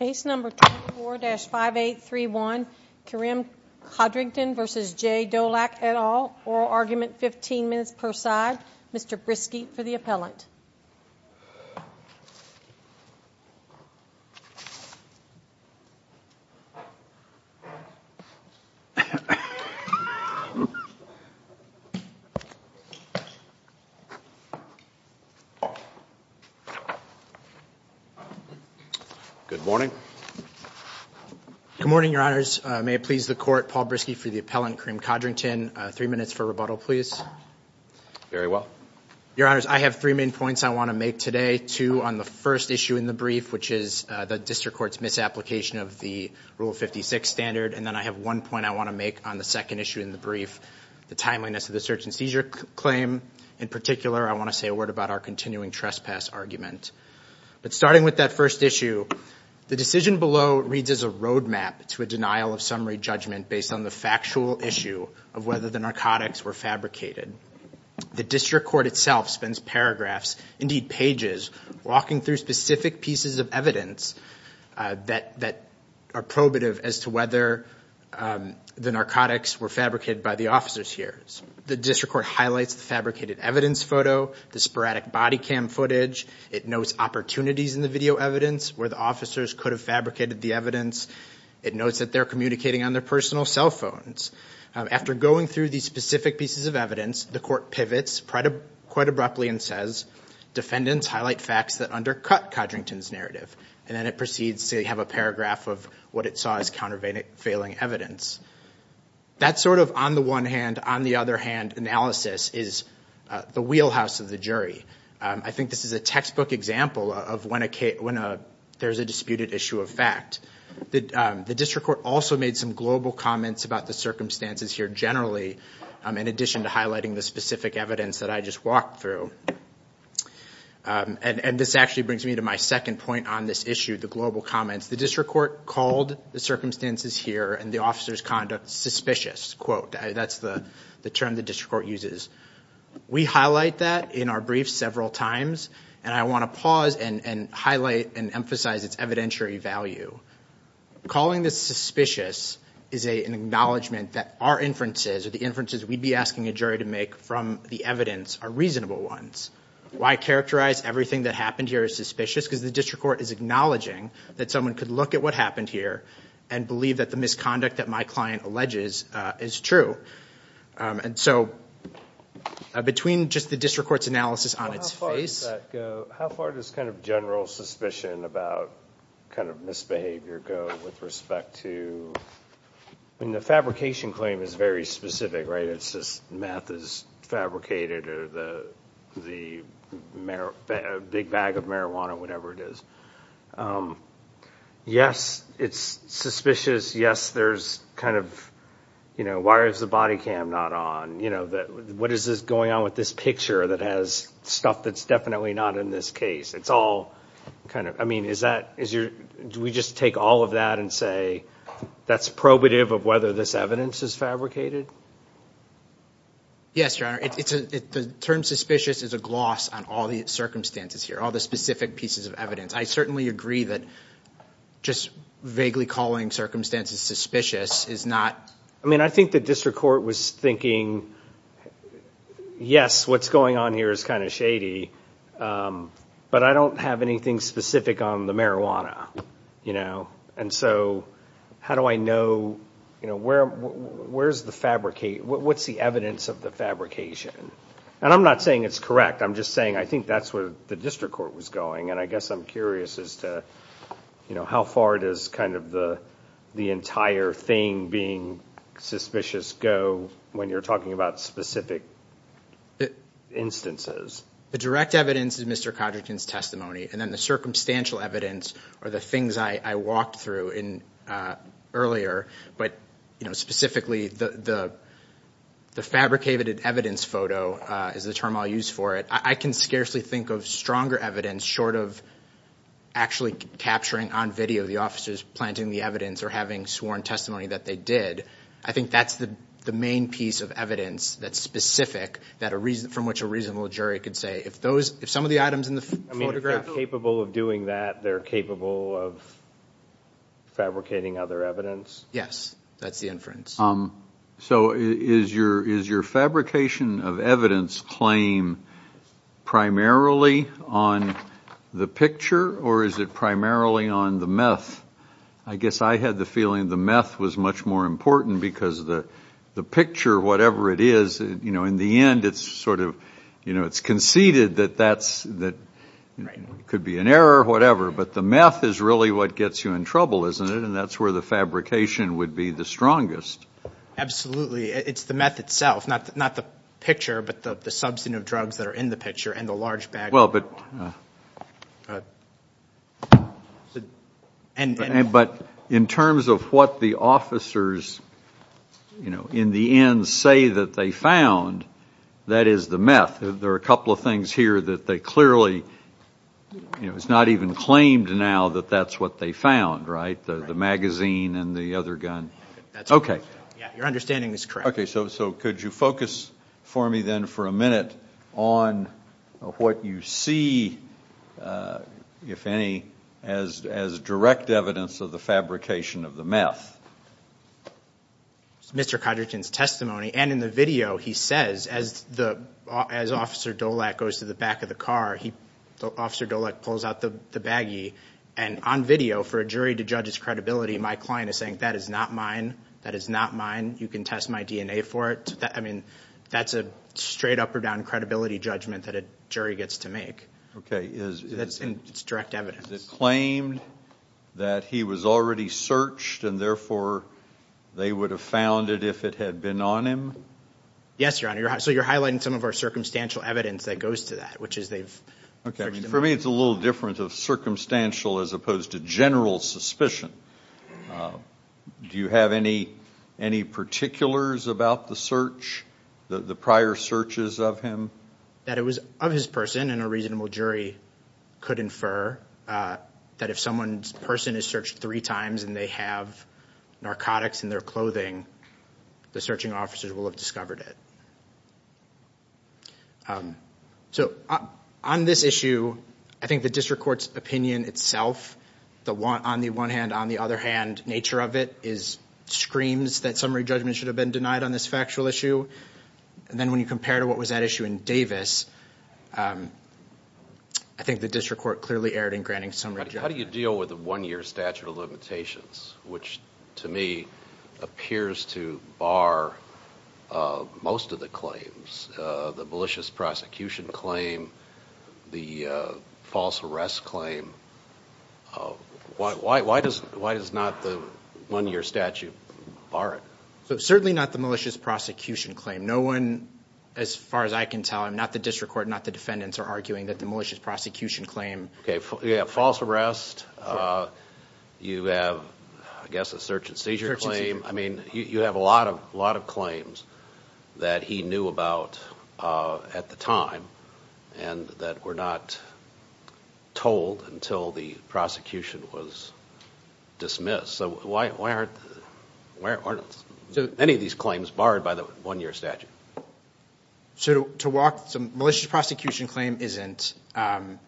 et al. Oral argument, 15 minutes per side. Mr. Briskeet for the appellant. Good morning. Good morning, your honors. May it please the court, Paul Briskeet for the appellant, Karim Codrington. Three minutes for rebuttal, please. Very well. Your honors, I have three main points I want to make today. Two on the first issue in the brief, which is the district court's misapplication of the Rule 56 standard. And then I have one point I want to make on the second issue in the brief, the timeliness of the search and seizure claim. In particular, I want to say a word about our continuing trespass argument. But starting with that first issue, the decision below reads as a roadmap to a denial of summary judgment based on the factual issue of whether the narcotics were fabricated. The district itself spends paragraphs, indeed pages, walking through specific pieces of evidence that are probative as to whether the narcotics were fabricated by the officers here. The district court highlights the fabricated evidence photo, the sporadic body cam footage. It notes opportunities in the video evidence, where the officers could have fabricated the evidence. It notes that they're communicating on their personal cell phones. After going through these specific pieces of evidence, the court pivots quite abruptly and says, defendants highlight facts that undercut Codrington's narrative. And then it proceeds to have a paragraph of what it saw as countervailing evidence. That sort of on the one hand, on the other hand analysis is the wheelhouse of the jury. I think this is a textbook example of when there's a disputed issue of fact. The district court also made some global comments about the circumstances here generally, in addition to highlighting the specific evidence that I just walked through. This actually brings me to my second point on this issue, the global comments. The district court called the circumstances here and the officer's conduct suspicious. That's the term the district court uses. We highlight that in our briefs several times. I want to pause and highlight and emphasize its evidentiary value. Calling this suspicious is an acknowledgment that our inferences, or the inferences we'd be asking a jury to make from the evidence are reasonable ones. Why characterize everything that happened here as suspicious? Because the district court is acknowledging that someone could look at what happened here and believe that the misconduct that my client alleges is true. So between just the district court's analysis on its face- How far does that go? How far does kind of general suspicion about kind of misbehavior go with respect to, I mean the fabrication claim is very specific, right? It's just meth is fabricated or the big bag of marijuana, whatever it is. Yes, it's suspicious. Yes, there's kind of, you know, why is the body cam not on? You know, what is this going on with this picture that has stuff that's definitely not in this case? It's all kind of, I mean, is that, do we just take all of that and say that's probative of whether this evidence is fabricated? Yes, your honor. The term suspicious is a gloss on all the circumstances here, all the specific pieces of evidence. I certainly agree that just vaguely calling circumstances suspicious is not- I mean, I think the district court was thinking, yes, what's going on here is kind of shady, but I don't have anything specific on the marijuana, you know, and so how do I know, you know, where's the fabricate, what's the evidence of the fabrication? And I'm not saying it's correct, I'm just saying I think that's where the district court was going and I guess I'm curious as to, you know, how far does kind of the entire thing being suspicious go when you're talking about specific instances? The direct evidence is Mr. Codrington's testimony and then the circumstantial evidence are the things I walked through earlier, but, you know, specifically the fabricated evidence photo is the term I'll use for it. I can scarcely think of stronger evidence short of actually capturing on video the officers planting the evidence or having sworn testimony that they did. I think that's the main piece of evidence that's specific from which a reasonable jury could say if those, if some of the items in the photograph are capable of doing that, they're capable of fabricating other evidence. Yes, that's the inference. So is your fabrication of evidence claim primarily on the picture or is it primarily on the meth? I guess I had the feeling the meth was much more important because the picture, whatever it is, you know, in the end it's sort of, you know, it's conceded that that's, that could be an error or whatever, but the meth is really what gets you in trouble, isn't it? And that's where the fabrication would be the strongest. Absolutely. It's the meth itself, not the picture, but the substantive drugs that are in the picture and the large bag. Well, but, but in terms of what the officers, you know, in the end say that they found, that is the meth. There are a couple of things here that they clearly, you know, it's not even claimed now that that's what they found, right? The magazine and the other gun. Okay. Yeah, your understanding is correct. Okay, so could you focus for me then for a minute on what you see, if any, as direct evidence of the fabrication of the meth? Mr. Codrington's testimony and in the video he says, as the, as Officer Dolak goes to the back of the car, he, Officer Dolak pulls out the baggie and on video for a jury to judge his credibility, my client is saying, that is not mine. That is not mine. You can test my DNA for it. I mean, that's a straight up or down credibility judgment that a jury gets to make. Okay. That's in its direct evidence. Is it claimed that he was already searched and therefore they would have found it if it had been on him? Yes, Your Honor. So you're highlighting some of our circumstantial evidence that goes to that, which is they've searched him. Okay, for me it's a little different of circumstantial as opposed to general suspicion. Do you have any, any particulars about the search, the fact that it was of his person and a reasonable jury could infer that if someone's person is searched three times and they have narcotics in their clothing, the searching officers will have discovered it? So on this issue, I think the district court's opinion itself, the one, on the one hand, on the other hand, nature of it is screams that summary judgment should have been denied on this factual issue. And then when you compare to what was at issue in Davis, um, I think the district court clearly erred in granting summary judgment. How do you deal with a one year statute of limitations, which to me appears to bar, uh, most of the claims, uh, the malicious prosecution claim, the, uh, false arrest claim. Uh, why, why, why does, why does not the one year statute bar it? So certainly not the malicious prosecution claim. No one, as far as I can tell, I'm not the district court, not the defendants are arguing that the malicious prosecution claim. Okay. Yeah. False arrest. Uh, you have, I guess, a search and seizure claim. I mean, you have a lot of, a lot of claims that he knew about, uh, at the time and that were not told until the prosecution was dismissed. So why, why aren't, why aren't any of these claims barred by the one year statute? So to walk some malicious prosecution claim isn't, um.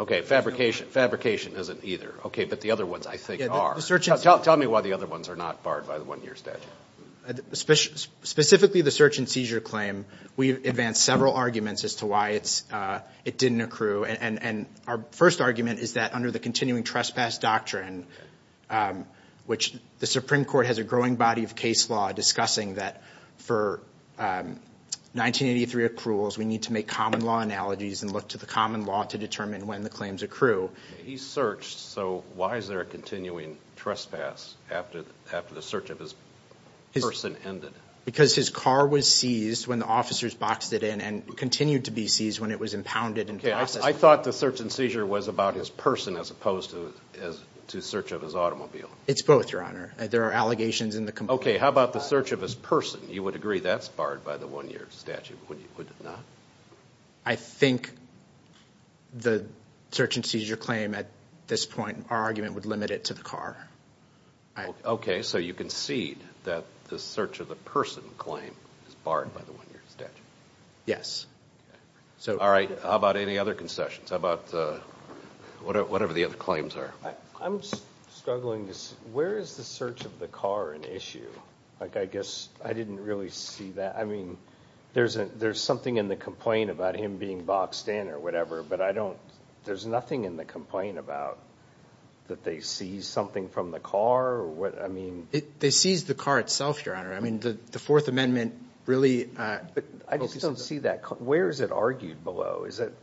Okay. Fabrication. Fabrication isn't either. Okay. But the other ones I think are. Tell me why the other ones are not barred by the one year statute. Specifically the search and seizure claim. We've advanced several arguments as to why it's, uh, it didn't accrue. And, and our first argument is that under the continuing trespass doctrine, um, which the Supreme Court has a growing body of case law discussing that for, um, 1983 accruals, we need to make common law analogies and look to the common law to determine when the claims accrue. He searched. So why is there a continuing trespass after, after the search of his person ended? Because his car was seized when the officers boxed it in and continued to be seized when it was impounded and processed. I thought the search and seizure was about his person as opposed to, as to search of his automobile. It's both, Your Honor. There are allegations in the complaint. Okay. How about the search of his person? You would agree that's barred by the one year statute. Would you, would it not? I think the search and seizure claim at this point, our argument would limit it to the car. Okay. So you concede that the search of the person claim is barred by the other concessions. How about, uh, whatever the other claims are. I'm struggling to, where is the search of the car an issue? Like, I guess I didn't really see that. I mean, there's a, there's something in the complaint about him being boxed in or whatever, but I don't, there's nothing in the complaint about that. They see something from the car or what? I mean, they seized the car itself, Your Honor. I mean, the, the fourth amendment really, uh, I just don't see that. Where is it argued below? Is it?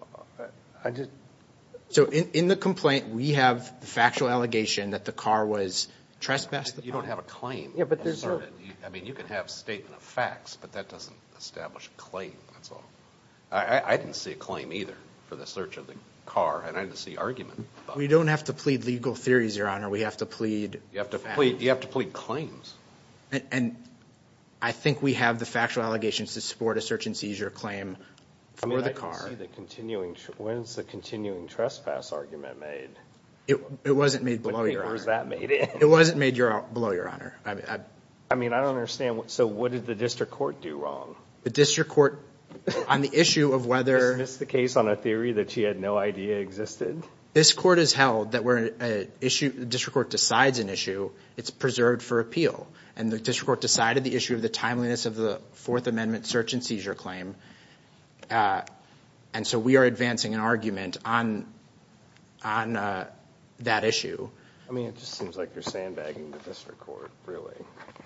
So in the complaint, we have the factual allegation that the car was trespassed. You don't have a claim. I mean, you can have statement of facts, but that doesn't establish a claim. That's all. I didn't see a claim either for the search of the car. And I didn't see argument. We don't have to plead legal theories, Your Honor. We have to plead. You have to plead. You have to plead claims. And I think we have the factual allegations to support a search and seizure claim for the car. I mean, I don't see the continuing, when's the continuing trespass argument made? It, it wasn't made below, Your Honor. When was that made? It wasn't made below, Your Honor. I mean, I don't understand. So what did the district court do wrong? The district court, on the issue of whether. Did you dismiss the case on a theory that she had no idea existed? This court has held that we're an issue, the district court decides an issue, it's preserved for appeal. And the district court decided the issue of the timeliness of the Fourth Amendment search and seizure claim. And so we are advancing an argument on, on that issue. I mean, it just seems like you're sandbagging the district court, really.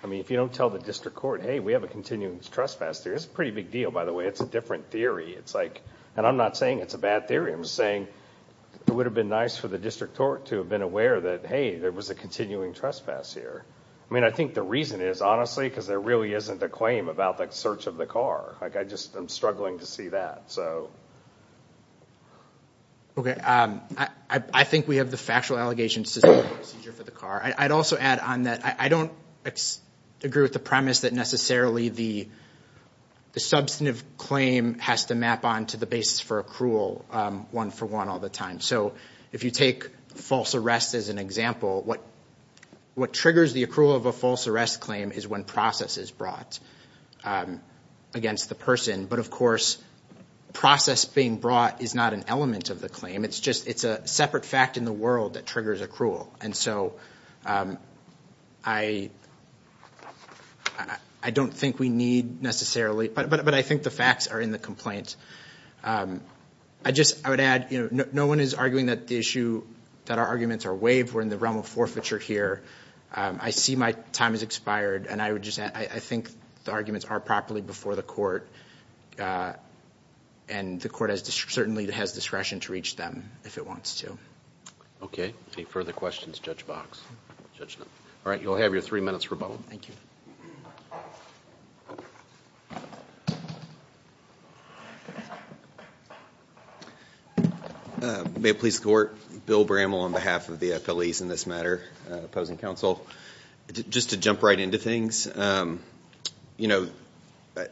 I mean, if you don't tell the district court, hey, we have a continuing trespass theory. It's a pretty big deal, by the way. It's a different theory. It's like, and I'm not saying it's a bad theory. I'm saying it would have been nice for the district court to have been aware that, hey, there was a continuing trespass here. I mean, I think the reason is, honestly, because there really isn't a claim about the search of the car. Like, I just, I'm struggling to see that. Okay. I think we have the factual allegations to the procedure for the car. I'd also add on that. I don't agree with the premise that necessarily the substantive claim has to map on to the basis for accrual, one for one all the time. So if you take false arrest as an example, what triggers the accrual of a false arrest claim is when process is brought against the person. But of course, process being brought is not an element of the claim. It's just, it's a separate fact in the world that triggers accrual. And so I don't think we need necessarily, but I think the facts are in the complaint. I just, I would add, no one is arguing that the issue, that our arguments are waived. We're in the realm of forfeiture here. I see my time has expired and I would just, I think the arguments are properly before the court and the court certainly has discretion to reach them if it wants to. Okay. Any further questions, Judge Box? All right. You'll have your three minutes rebuttal. May it please the court, Bill Brammel on behalf of the FLEs in this matter, opposing counsel. Just to jump right into things, you know,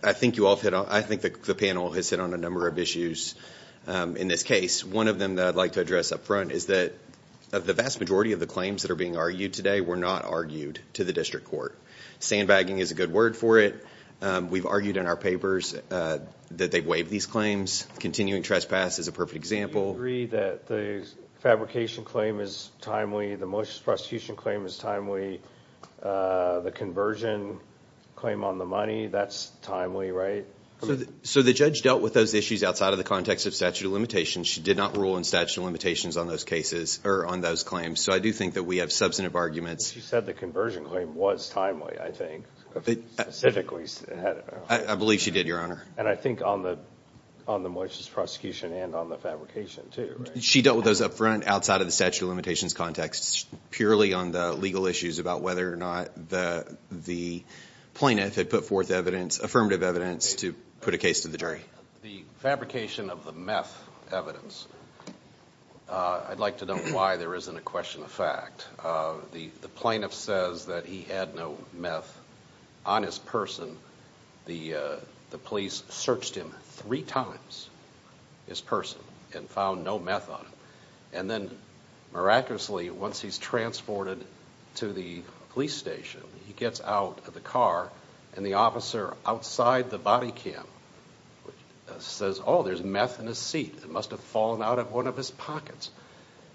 I think you all have hit on, I think the panel has hit on a number of issues in this case. One of them that I'd like to address up front is that of the vast majority of the claims that are being argued today were not argued to the district court. Sandbagging is a good word for it. We've argued in our papers that they've waived these claims. Continuing trespass is a perfect example. Do you agree that the fabrication claim is timely, the malicious prosecution claim is timely, the conversion claim on the money, that's timely, right? So the judge dealt with those issues outside of the context of statute of limitations. She did not rule in statute of limitations on those cases, or on those claims. So I do think that we have substantive arguments. You said the conversion claim was timely, I think. Specifically. I believe she did, Your Honor. And I think on the malicious prosecution and on the fabrication too, right? She dealt with those up front outside of the statute of limitations context, purely on the legal issues about whether or not the plaintiff had put forth affirmative evidence to put a case to the jury. The fabrication of the meth evidence, I'd like to know why there isn't a question of fact. The plaintiff says that he had no meth on his person. The police searched him three times, his person, and found no meth on him. And then, miraculously, once he's transported to the police station, he gets out of the car, and the officer outside the body cam says, oh, there's meth in his seat. It must have fallen out of one of his pockets.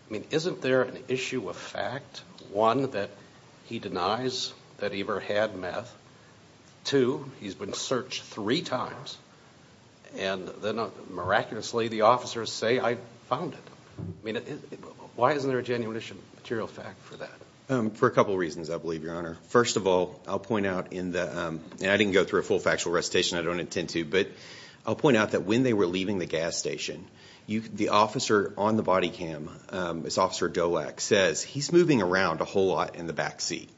I mean, isn't there an issue of fact? One, that he denies that he ever had meth. Two, he's been searched three times, and then, miraculously, the officers say, I found it. I mean, why isn't there a genuine issue of material fact for that? For a couple of reasons, I believe, Your Honor. First of all, I'll point out, and I didn't go through a full factual recitation, I don't intend to, but I'll point out that when they were leaving the gas station, the officer on the body cam, Officer Dowak, says, he's moving around a whole lot in the back seat.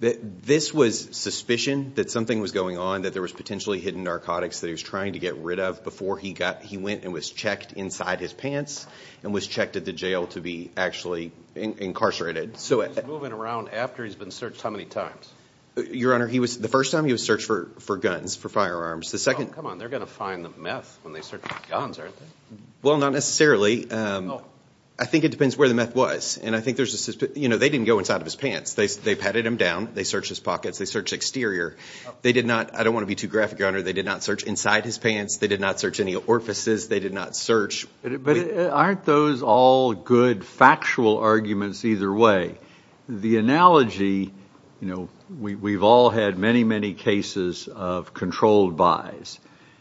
This was suspicion that something was going on, that there was potentially hidden narcotics that he was trying to get rid of before he got, he went and was checked inside his pants, and was checked at the jail to be actually incarcerated. So he's moving around after he's been searched how many times? Your Honor, he was, the first time, he was searched for guns, for firearms. The second time, come on, they're going to find the meth when they search for guns, aren't they? Well, not necessarily. I think it depends where the meth was, and I think there's a suspicion, you know, they didn't go inside of his pants. They petted him down, they searched his pockets, they searched exterior. They did not, I don't want to be too graphic, Your Honor, they did not search inside his pants, they did not search any orifices, they did not search... But aren't those all good factual arguments either way? The analogy, you know, we've all had many, many cases of controlled buys,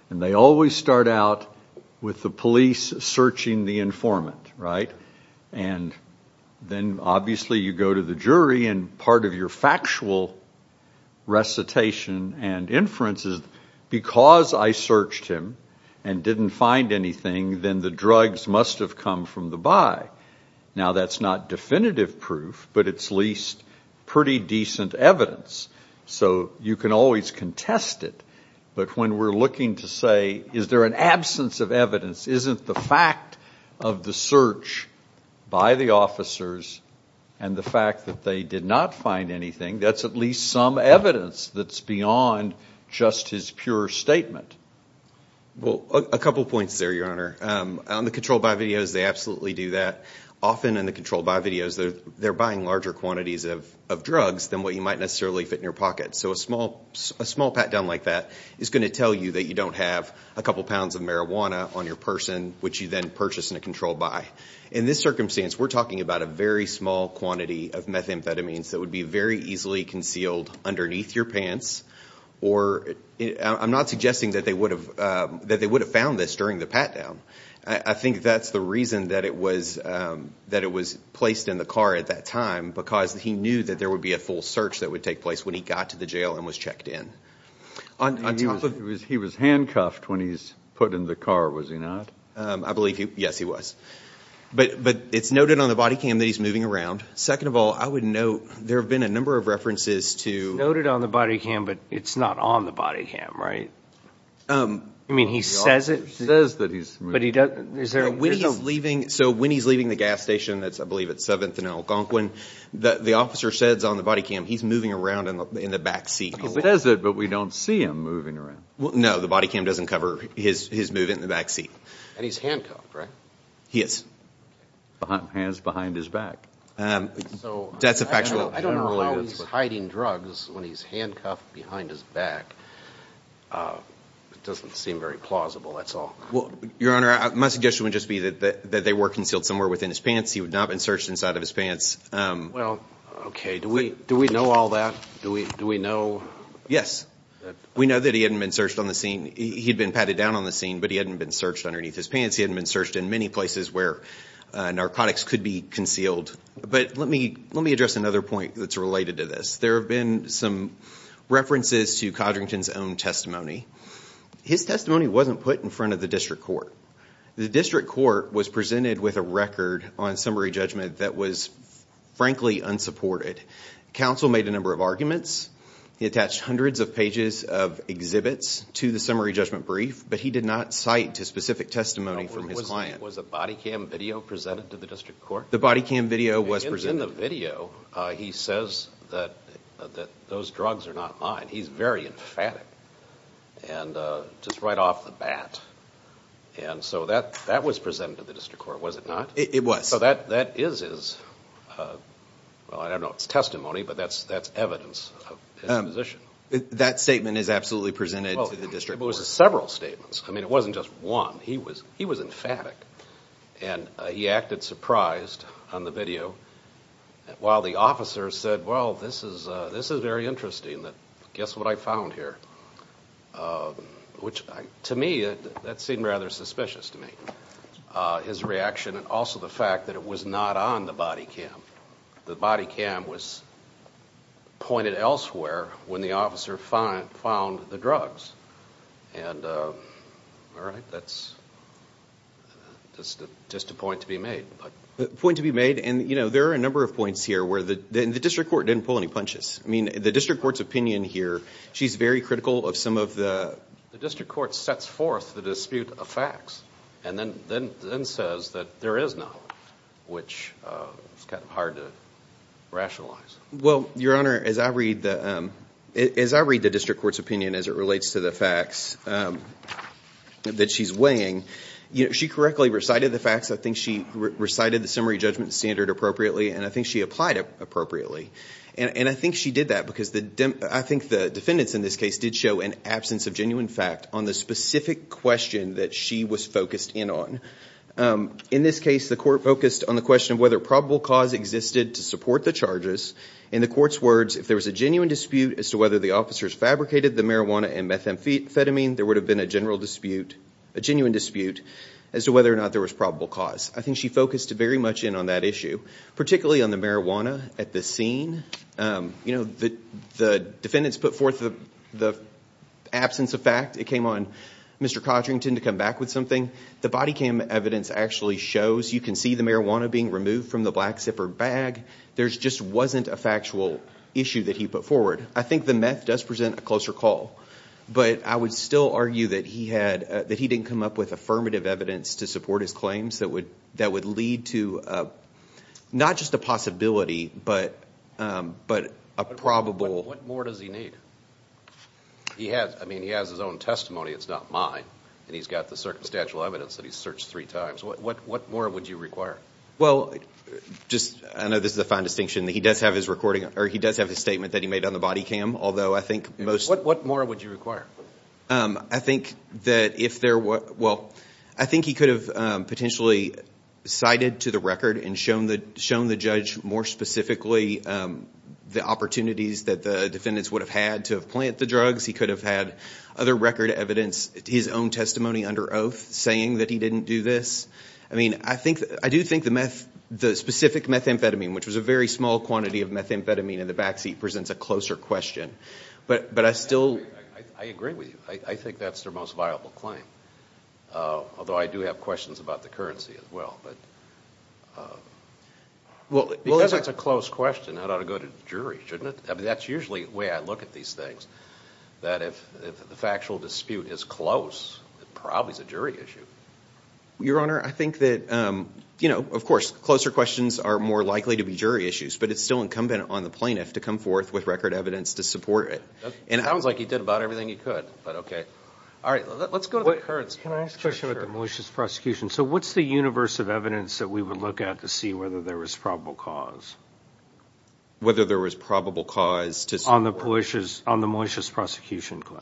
and they always start out with the police searching the informant, right? And then obviously you go to the jury, and part of your factual recitation and inference is, because I searched him and didn't find anything, then the drugs must have come from the buy. Now that's not definitive proof, but it's at least pretty decent evidence. So you can always contest it, but when we're looking to say, is there an absence of evidence, isn't the fact of the search by the officers and the fact that they did not find anything, that's at least some evidence that's beyond just his pure statement. Well, a couple points there, Your Honor. On the controlled buy videos, they absolutely do that. Often in the controlled buy videos, they're buying larger quantities of drugs than what you might necessarily fit in your pocket. So a small pat-down like that is going to tell you that you don't have a couple pounds of marijuana on your person, which you then purchase in a controlled buy. In this circumstance, we're talking about a very small quantity of methamphetamines that would be very easily concealed underneath your pants. I'm not suggesting that they would have found this during the pat-down. I think that's the reason that it was placed in the car at that time, because he knew that there would be a full search that would take place when he got to the jail and was checked in. He was handcuffed when he was put in the car, was he not? I believe he was. Yes, he was. But it's noted on the body cam that he's moving around. Second of all, I would note, there have been a number of references to... It's noted on the body cam, but it's not on the body cam, right? I mean, he says it. So when he's leaving the gas station, I believe it's 7th and Algonquin, the officer says on the body cam, he's moving around in the back seat. He says it, but we don't see him moving around. No, the body cam doesn't cover his movement in the back seat. And he's handcuffed, right? He is. Hands behind his back. That's a factual evidence. I don't know how he's hiding drugs when he's handcuffed behind his back. It doesn't seem very plausible, that's all. Well, Your Honor, my suggestion would just be that they were concealed somewhere within his pants. He would not have been searched inside of his pants. Well, okay. Do we know all that? Do we know... Yes. We know that he hadn't been searched on the scene. He'd been patted down on the scene, but he hadn't been searched underneath his pants. He hadn't been searched in many places where narcotics could be concealed. But let me address another point that's related to this. There have been some references to Codrington's own testimony. His testimony wasn't put in front of the district court. The district court was presented with a record on summary judgment that was, frankly, unsupported. Counsel made a number of arguments. He attached hundreds of pages of exhibits to the summary judgment brief, but he did not cite a specific testimony from his client. Was a body cam video presented to the district court? The body cam video was presented. In the video, he says that those drugs are not mine. He's very emphatic. And just right off the bat. And so that was presented to the district court, was it not? It was. So that is his... Well, I don't know if it's testimony, but that's evidence of his position. That statement is absolutely presented to the district court. Well, it was several statements. I mean, it wasn't just one. He was emphatic. And he acted surprised on the video while the officer said, well, this is very interesting. Guess what I found here? Which, to me, that seemed rather suspicious to me. His reaction and also the fact that it was not on the body cam. The body cam was pointed elsewhere when the officer found the drugs. And, all right, that's just a point to be made. A point to be made. And there are a number of points here where the district court didn't pull any punches. I mean, the district court's opinion here, she's very critical of some of the... The district court sets forth the dispute of facts and then says that there is knowledge, which is kind of hard to rationalize. Well, Your Honor, as I read the district court's opinion as it relates to the facts that she's weighing, she correctly recited the facts. I think she recited the summary judgment standard appropriately, and I think she applied it appropriately. And I think she did that because I think the defendants in this case did show an absence of genuine fact on the specific question that she was focused in on. In this case, the court focused on the question of whether probable cause existed to support the charges. In the court's words, if there was a genuine dispute as to whether the officers fabricated the marijuana and methamphetamine, there would have been a genuine dispute as to whether or not there was probable cause. I think she focused very much in on that issue, particularly on the marijuana at the scene. The defendants put forth the absence of fact. It came on Mr. Codrington to come back with something. The body cam evidence actually shows you can see the marijuana being removed from the black zipper bag. There just wasn't a factual issue that he put forward. I think the meth does present a closer call, but I would still argue that he didn't come up with affirmative evidence to support his claims that would lead to not just a possibility, but a probable... What more does he need? He has his own testimony. It's not mine. And he's got the circumstantial evidence that he's searched three times. What more would you require? Well, I know this is a fine distinction. He does have his statement that he made on the body cam, although I think most... What more would you require? I think that if there were... Well, I think he could have potentially cited to the record and shown the judge more specifically the opportunities that the defendants would have had to have plant the drugs. He could have had other record evidence, his own testimony under oath saying that he didn't do this. I mean, I do think the specific methamphetamine, which was a very small quantity of methamphetamine in the backseat, presents a closer question, but I still... I agree with you. I think that's their most viable claim, although I do have questions about the currency as well. Because it's a close question, that ought to go to the jury, shouldn't it? I mean, that's usually the way I look at these things, that if the factual dispute is close, it probably is a jury issue. Your Honor, I think that, of course, closer questions are more likely to be jury issues, but it's still incumbent on the plaintiff to come forth with record evidence to support it. It sounds like he did about everything he could, but okay. All right, let's go to the currents. Can I ask a question about the malicious prosecution? So what's the universe of evidence that we would look at to see whether there was probable cause? Whether there was probable cause to support... On the malicious prosecution claim.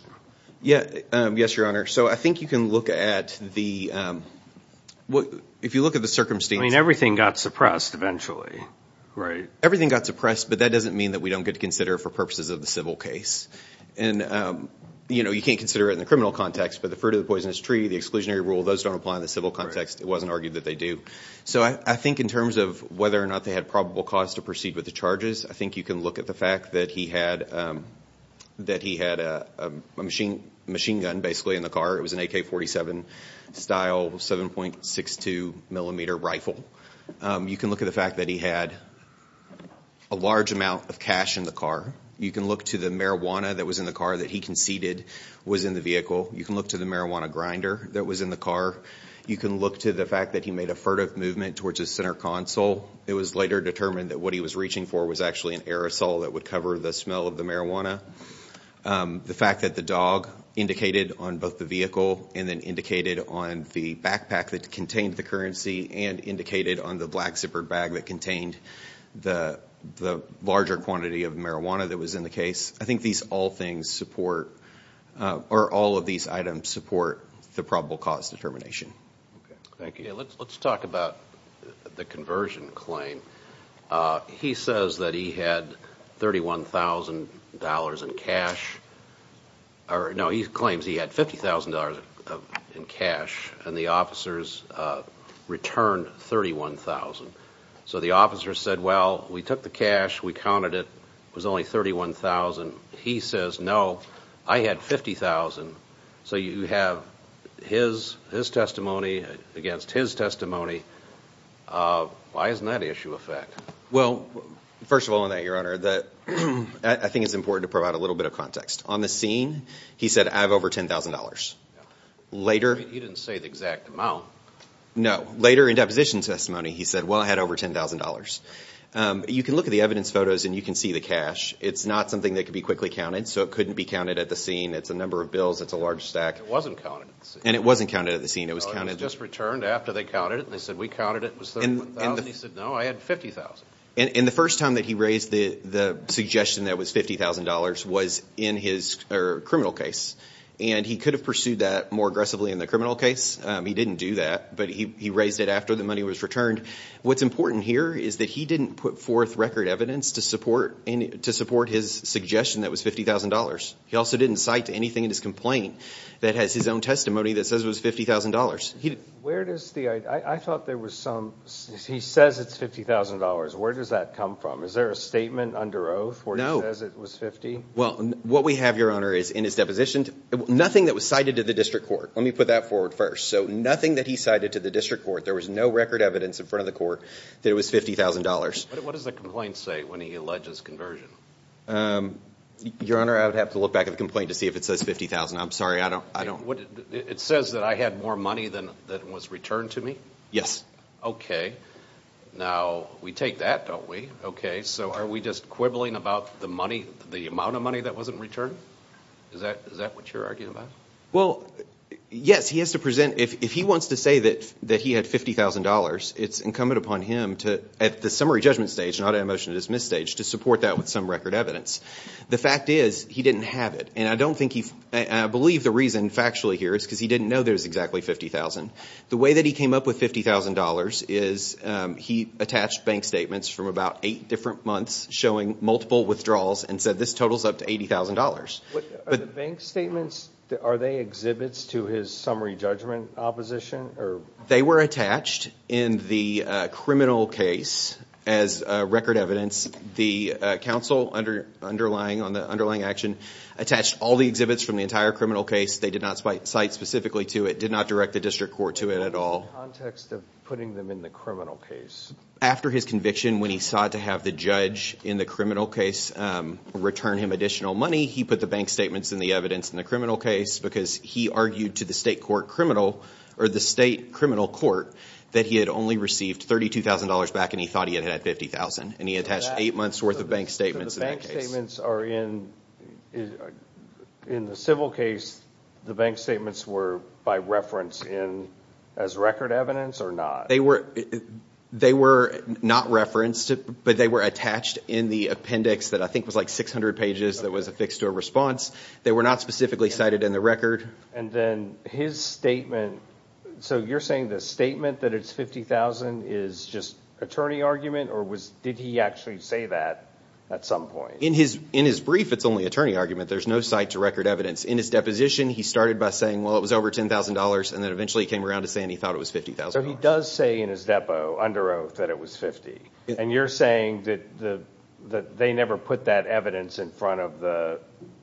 Yes, Your Honor. So I think you can look at the... If you look at the circumstances... I mean, everything got suppressed eventually, right? Everything got suppressed, but that doesn't mean that we don't get to consider it for purposes of the civil case. And you can't consider it in the criminal context, but the fruit of the poisonous tree, the exclusionary rule, those don't apply in the civil context. It wasn't argued that they do. So I think in terms of whether or not they had probable cause to proceed with the charges, I think you can look at the fact that he had a machine gun, basically, in the car. It was an AK-47 style 7.62 millimeter rifle. You can look at the fact that he had a large amount of cash in the car. You can look to the marijuana that was in the car that he conceded was in the vehicle. You can look to the marijuana grinder that was in the car. You can look to the fact that he made a furtive movement towards his center console. It was later determined that what he was reaching for was actually an aerosol that would cover the smell of the marijuana. The fact that the dog indicated on both the vehicle and then indicated on the backpack that contained the currency and indicated on the black zippered bag that contained the larger quantity of marijuana that was in the case. I think these all things support, or all of these items support, the probable cause determination. Okay. Thank you. Okay, let's talk about the conversion claim. He says that he had $31,000 in cash, or no, he claims he had $50,000 in cash, and the officers returned $31,000. So the officers said, well, we took the cash, we counted it, it was only $31,000. He says, no, I had $50,000. So you have his testimony against his testimony. Why isn't that issue a fact? Well, first of all on that, Your Honor, I think it's important to provide a little bit of context. On the scene, he said, I have over $10,000. He didn't say the exact amount. No. Later in deposition testimony, he said, well, I had over $10,000. You can look at the evidence photos and you can see the cash. It's not something that can be quickly counted, so it couldn't be counted at the scene. It's a number of bills. It's a large stack. It wasn't counted at the scene. And it wasn't counted at the scene. It was counted... No, it was just returned after they counted it. They said, we counted it. It was $31,000. He said, no, I had $50,000. And the first time that he raised the suggestion that it was $50,000 was in his criminal case, and he could have pursued that more aggressively in the criminal case. He didn't do that, but he raised it after the money was returned. What's important here is that he didn't put forth record evidence to support his suggestion that it was $50,000. He also didn't cite anything in his complaint that has his own testimony that says it was $50,000. Where does the... I thought there was some... He says it's $50,000. Where does that come from? Is there a statement under oath where he says it was $50,000? Well, what we have, Your Honor, is in his deposition, nothing that was cited to the district court. Let me put that forward first. So, nothing that he cited to the district court. There was no record evidence in front of the court that it was $50,000. What does the complaint say when he alleges conversion? Your Honor, I would have to look back at the complaint to see if it says $50,000. I'm sorry, I don't... It says that I had more money than was returned to me? Yes. Okay. Now, we take that, don't we? Okay. So, are we just quibbling about the money, the amount of money that wasn't returned? Is that what you're arguing about? Well, yes. He has to present... If he wants to say that he had $50,000, it's incumbent upon him to, at the summary judgment stage, not at a motion to dismiss stage, to support that with some record evidence. The fact is, he didn't have it. And I don't think he... I believe the reason factually here is because he didn't know there was exactly $50,000. The way that he came up with $50,000 is he attached bank statements from about eight different months showing multiple withdrawals and said this totals up to $80,000. Are the bank statements, are they exhibits to his summary judgment opposition? They were attached in the criminal case as record evidence. The counsel underlying action attached all the exhibits from the entire criminal case. They did not cite specifically to it, did not direct the district court to it at all. What was the context of putting them in the criminal case? After his conviction, when he sought to have the judge in the criminal case return him additional money, he put the bank statements and the evidence in the criminal case because he argued to the state criminal court that he had only received $32,000 back and he thought he had had $50,000. And he attached eight months' worth of bank statements in that case. So the bank statements are in... In the civil case, the bank statements were by reference as record evidence or not? They were not referenced, but they were attached in the appendix that I think was like 600 pages that was affixed to a response. They were not specifically cited in the record. And then his statement, so you're saying the statement that it's $50,000 is just attorney argument or did he actually say that at some point? In his brief, it's only attorney argument. There's no cite to record evidence. In his deposition, he started by saying, well, it was over $10,000, and then eventually he came around to saying he thought it was $50,000. So he does say in his depo, under oath, that it was $50,000. And you're saying that they never put that evidence in front of the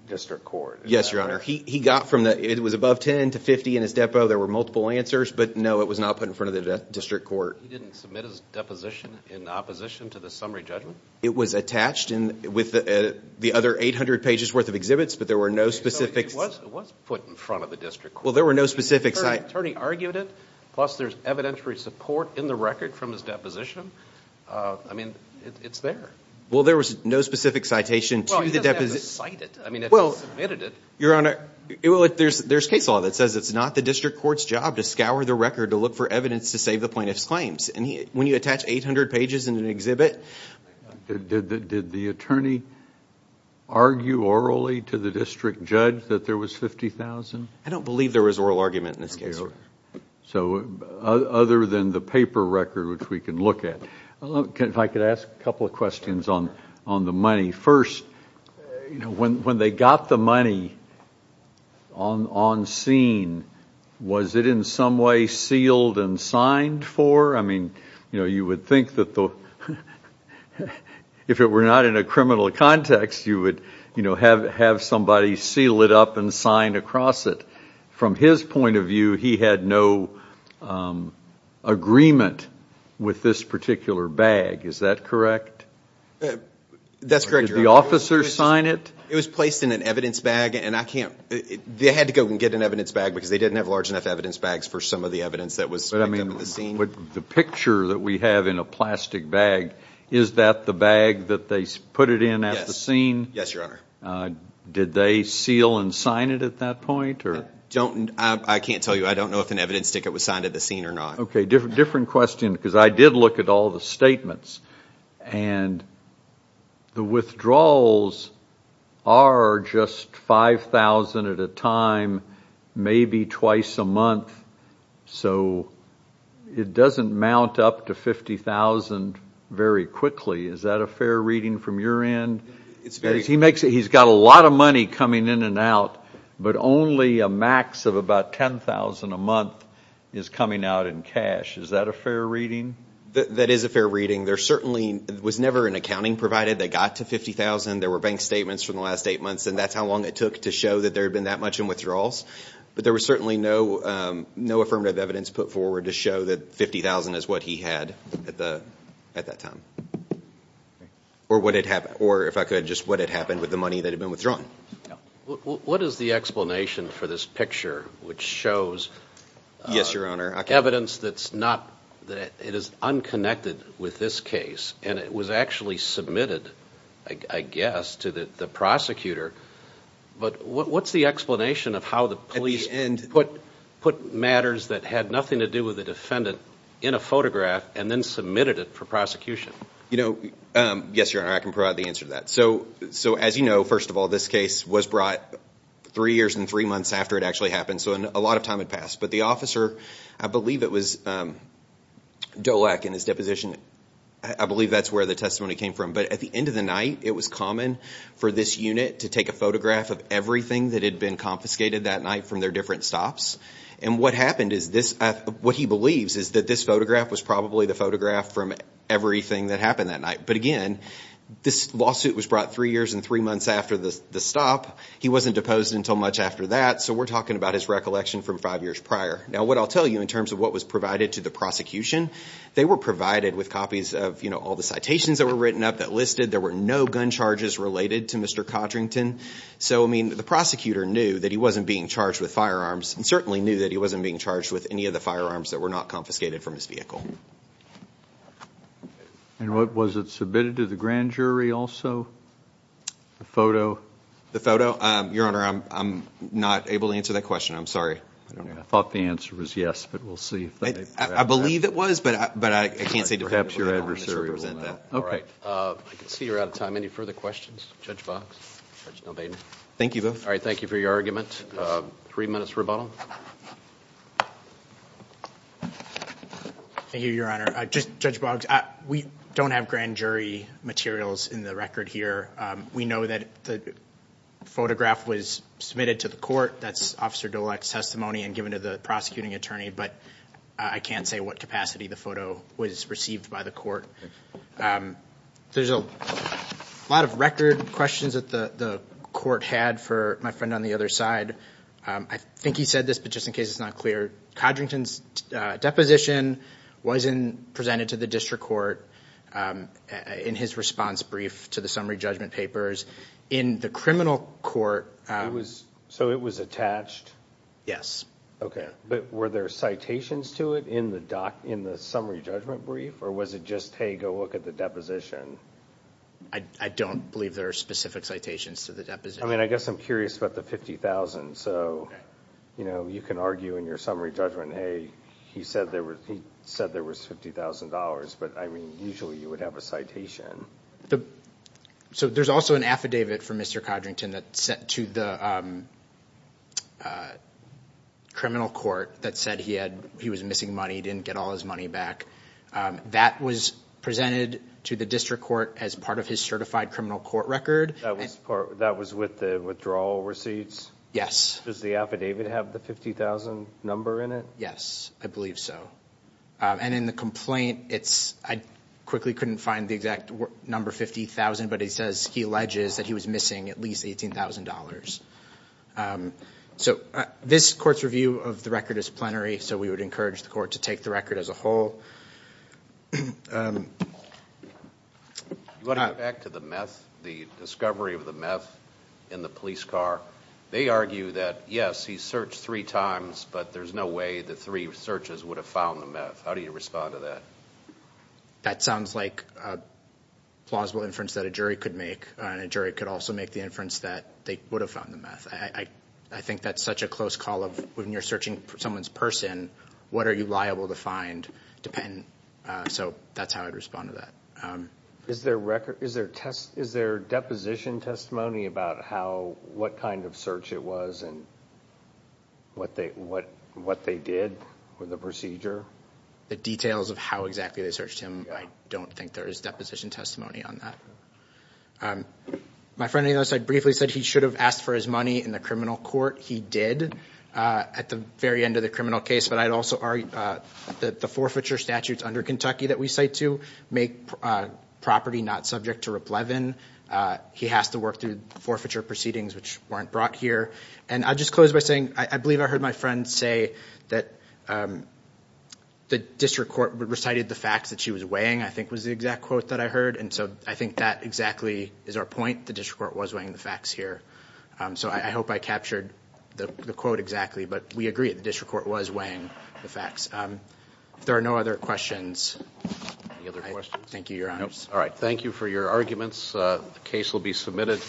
district court? Yes, Your Honor. He got from the... It was above $10,000 to $50,000 in his depo. There were multiple answers, but no, it was not put in front of the district court. He didn't submit his deposition in opposition to the summary judgment? It was attached with the other 800 pages' worth of exhibits, but there were no specific... So it was put in front of the district court. Well, there were no specific... The attorney argued it, plus there's evidentiary support in the record from his deposition. I mean, it's there. Well, there was no specific citation to the deposition. Well, he doesn't have to cite it. I mean, if he submitted it... Your Honor, there's case law that says it's not the district court's job to scour the record to look for evidence to save the plaintiff's claims. And when you attach 800 pages in an exhibit... Did the attorney argue orally to the district judge that there was $50,000? I don't believe there was oral argument in this case, Your Honor. So other than the paper record, which we can look at... If I could ask a couple of questions on the money. First, when they got the money on scene, was it in some way sealed and signed for? I mean, you would think that the... If it were not in a criminal context, you would have somebody seal it up and sign across it. From his point of view, he had no agreement with this particular bag. Is that correct? That's correct, Your Honor. Did the officer sign it? It was placed in an evidence bag, and I can't... They had to go and get an evidence bag because they didn't have large enough evidence bags for some of the evidence that was on the scene. The picture that we have in a plastic bag, is that the bag that they put it in at the scene? Yes, Your Honor. Did they seal and sign it at that point? I can't tell you. I don't know if an evidence ticket was signed at the scene or not. Okay, different question, because I did look at all the statements, and the withdrawals are just $5,000 at a time, maybe twice a month. So it doesn't mount up to $50,000 very quickly. Is that a fair reading from your end? He's got a lot of money coming in and out, but only a max of about $10,000 a month is coming out in cash. Is that a fair reading? That is a fair reading. There certainly was never an accounting provided that got to $50,000. There were bank statements from the last eight months, and that's how long it took to show that there had been that much in withdrawals. But there was certainly no affirmative evidence put forward to show that $50,000 is what he had at that time, or if I could, just what had happened with the money that had been withdrawn. What is the explanation for this picture, which shows evidence that is unconnected with this case, and it was actually submitted, I guess, to the prosecutor? But what's the explanation of how the police put matters that had nothing to do with the defendant in a photograph and then submitted it for prosecution? Yes, Your Honor, I can provide the answer to that. So as you know, first of all, this case was brought three years and three months after it actually happened, so a lot of time had passed. But the officer, I believe it was Dolek in his deposition. I believe that's where the testimony came from. But at the end of the night, it was common for this unit to take a photograph of everything that had been confiscated that night from their different stops. And what happened is this—what he believes is that this photograph was probably the photograph from everything that happened that night. But again, this lawsuit was brought three years and three months after the stop. He wasn't deposed until much after that, so we're talking about his recollection from five years prior. Now what I'll tell you in terms of what was provided to the prosecution, they were provided with copies of all the citations that were written up, that listed there were no gun charges related to Mr. Codrington. So, I mean, the prosecutor knew that he wasn't being charged with firearms and certainly knew that he wasn't being charged with any of the firearms that were not confiscated from his vehicle. And was it submitted to the grand jury also, the photo? The photo? Your Honor, I'm not able to answer that question. I'm sorry. I thought the answer was yes, but we'll see. I believe it was, but I can't say definitively. All right. I can see you're out of time. Any further questions? Judge Boggs? Judge Nel-Baden? Thank you, both. All right. Thank you for your argument. Three minutes rebuttal. Thank you, Your Honor. Judge Boggs, we don't have grand jury materials in the record here. We know that the photograph was submitted to the court. That's Officer Dolek's testimony and given to the prosecuting attorney, but I can't say what capacity the photo was received by the court. There's a lot of record questions that the court had for my friend on the other side. I think he said this, but just in case it's not clear, Codrington's deposition wasn't presented to the district court in his response brief to the summary judgment papers. In the criminal court- So it was attached? Yes. Okay. But were there citations to it in the summary judgment brief, or was it just, hey, go look at the deposition? I don't believe there are specific citations to the deposition. I mean, I guess I'm curious about the $50,000. So you can argue in your summary judgment, hey, he said there was $50,000, but I mean, usually you would have a citation. So there's also an affidavit from Mr. Codrington that's sent to the criminal court that said he was missing money, didn't get all his money back. That was presented to the district court as part of his certified criminal court record. That was with the withdrawal receipts? Yes. Does the affidavit have the $50,000 number in it? Yes, I believe so. And in the complaint, I quickly couldn't find the exact number, $50,000, but it says he alleges that he was missing at least $18,000. So this court's review of the record is plenary, so we would encourage the court to take the record as a whole. Going back to the meth, the discovery of the meth in the police car, they argue that, yes, he searched three times, but there's no way the three searches would have found the meth. How do you respond to that? That sounds like a plausible inference that a jury could make, and a jury could also make the inference that they would have found the meth. I think that's such a close call of when you're searching for someone's person, what are you liable to find? So that's how I'd respond to that. Is there deposition testimony about what kind of search it was and what they did for the procedure? The details of how exactly they searched him, I don't think there is deposition testimony on that. My friend, as I briefly said, he should have asked for his money in the criminal court. He did at the very end of the criminal case, but I'd also argue that the forfeiture statutes under Kentucky that we cite to make property not subject to ruplevin. He has to work through forfeiture proceedings which weren't brought here. And I'll just close by saying I believe I heard my friend say that the district court recited the facts that she was weighing, I think was the exact quote that I heard, and so I think that exactly is our point. The district court was weighing the facts here. So I hope I captured the quote exactly, but we agree that the district court was weighing the facts. If there are no other questions, I thank you, Your Honors. All right. Thank you for your arguments. The case will be submitted.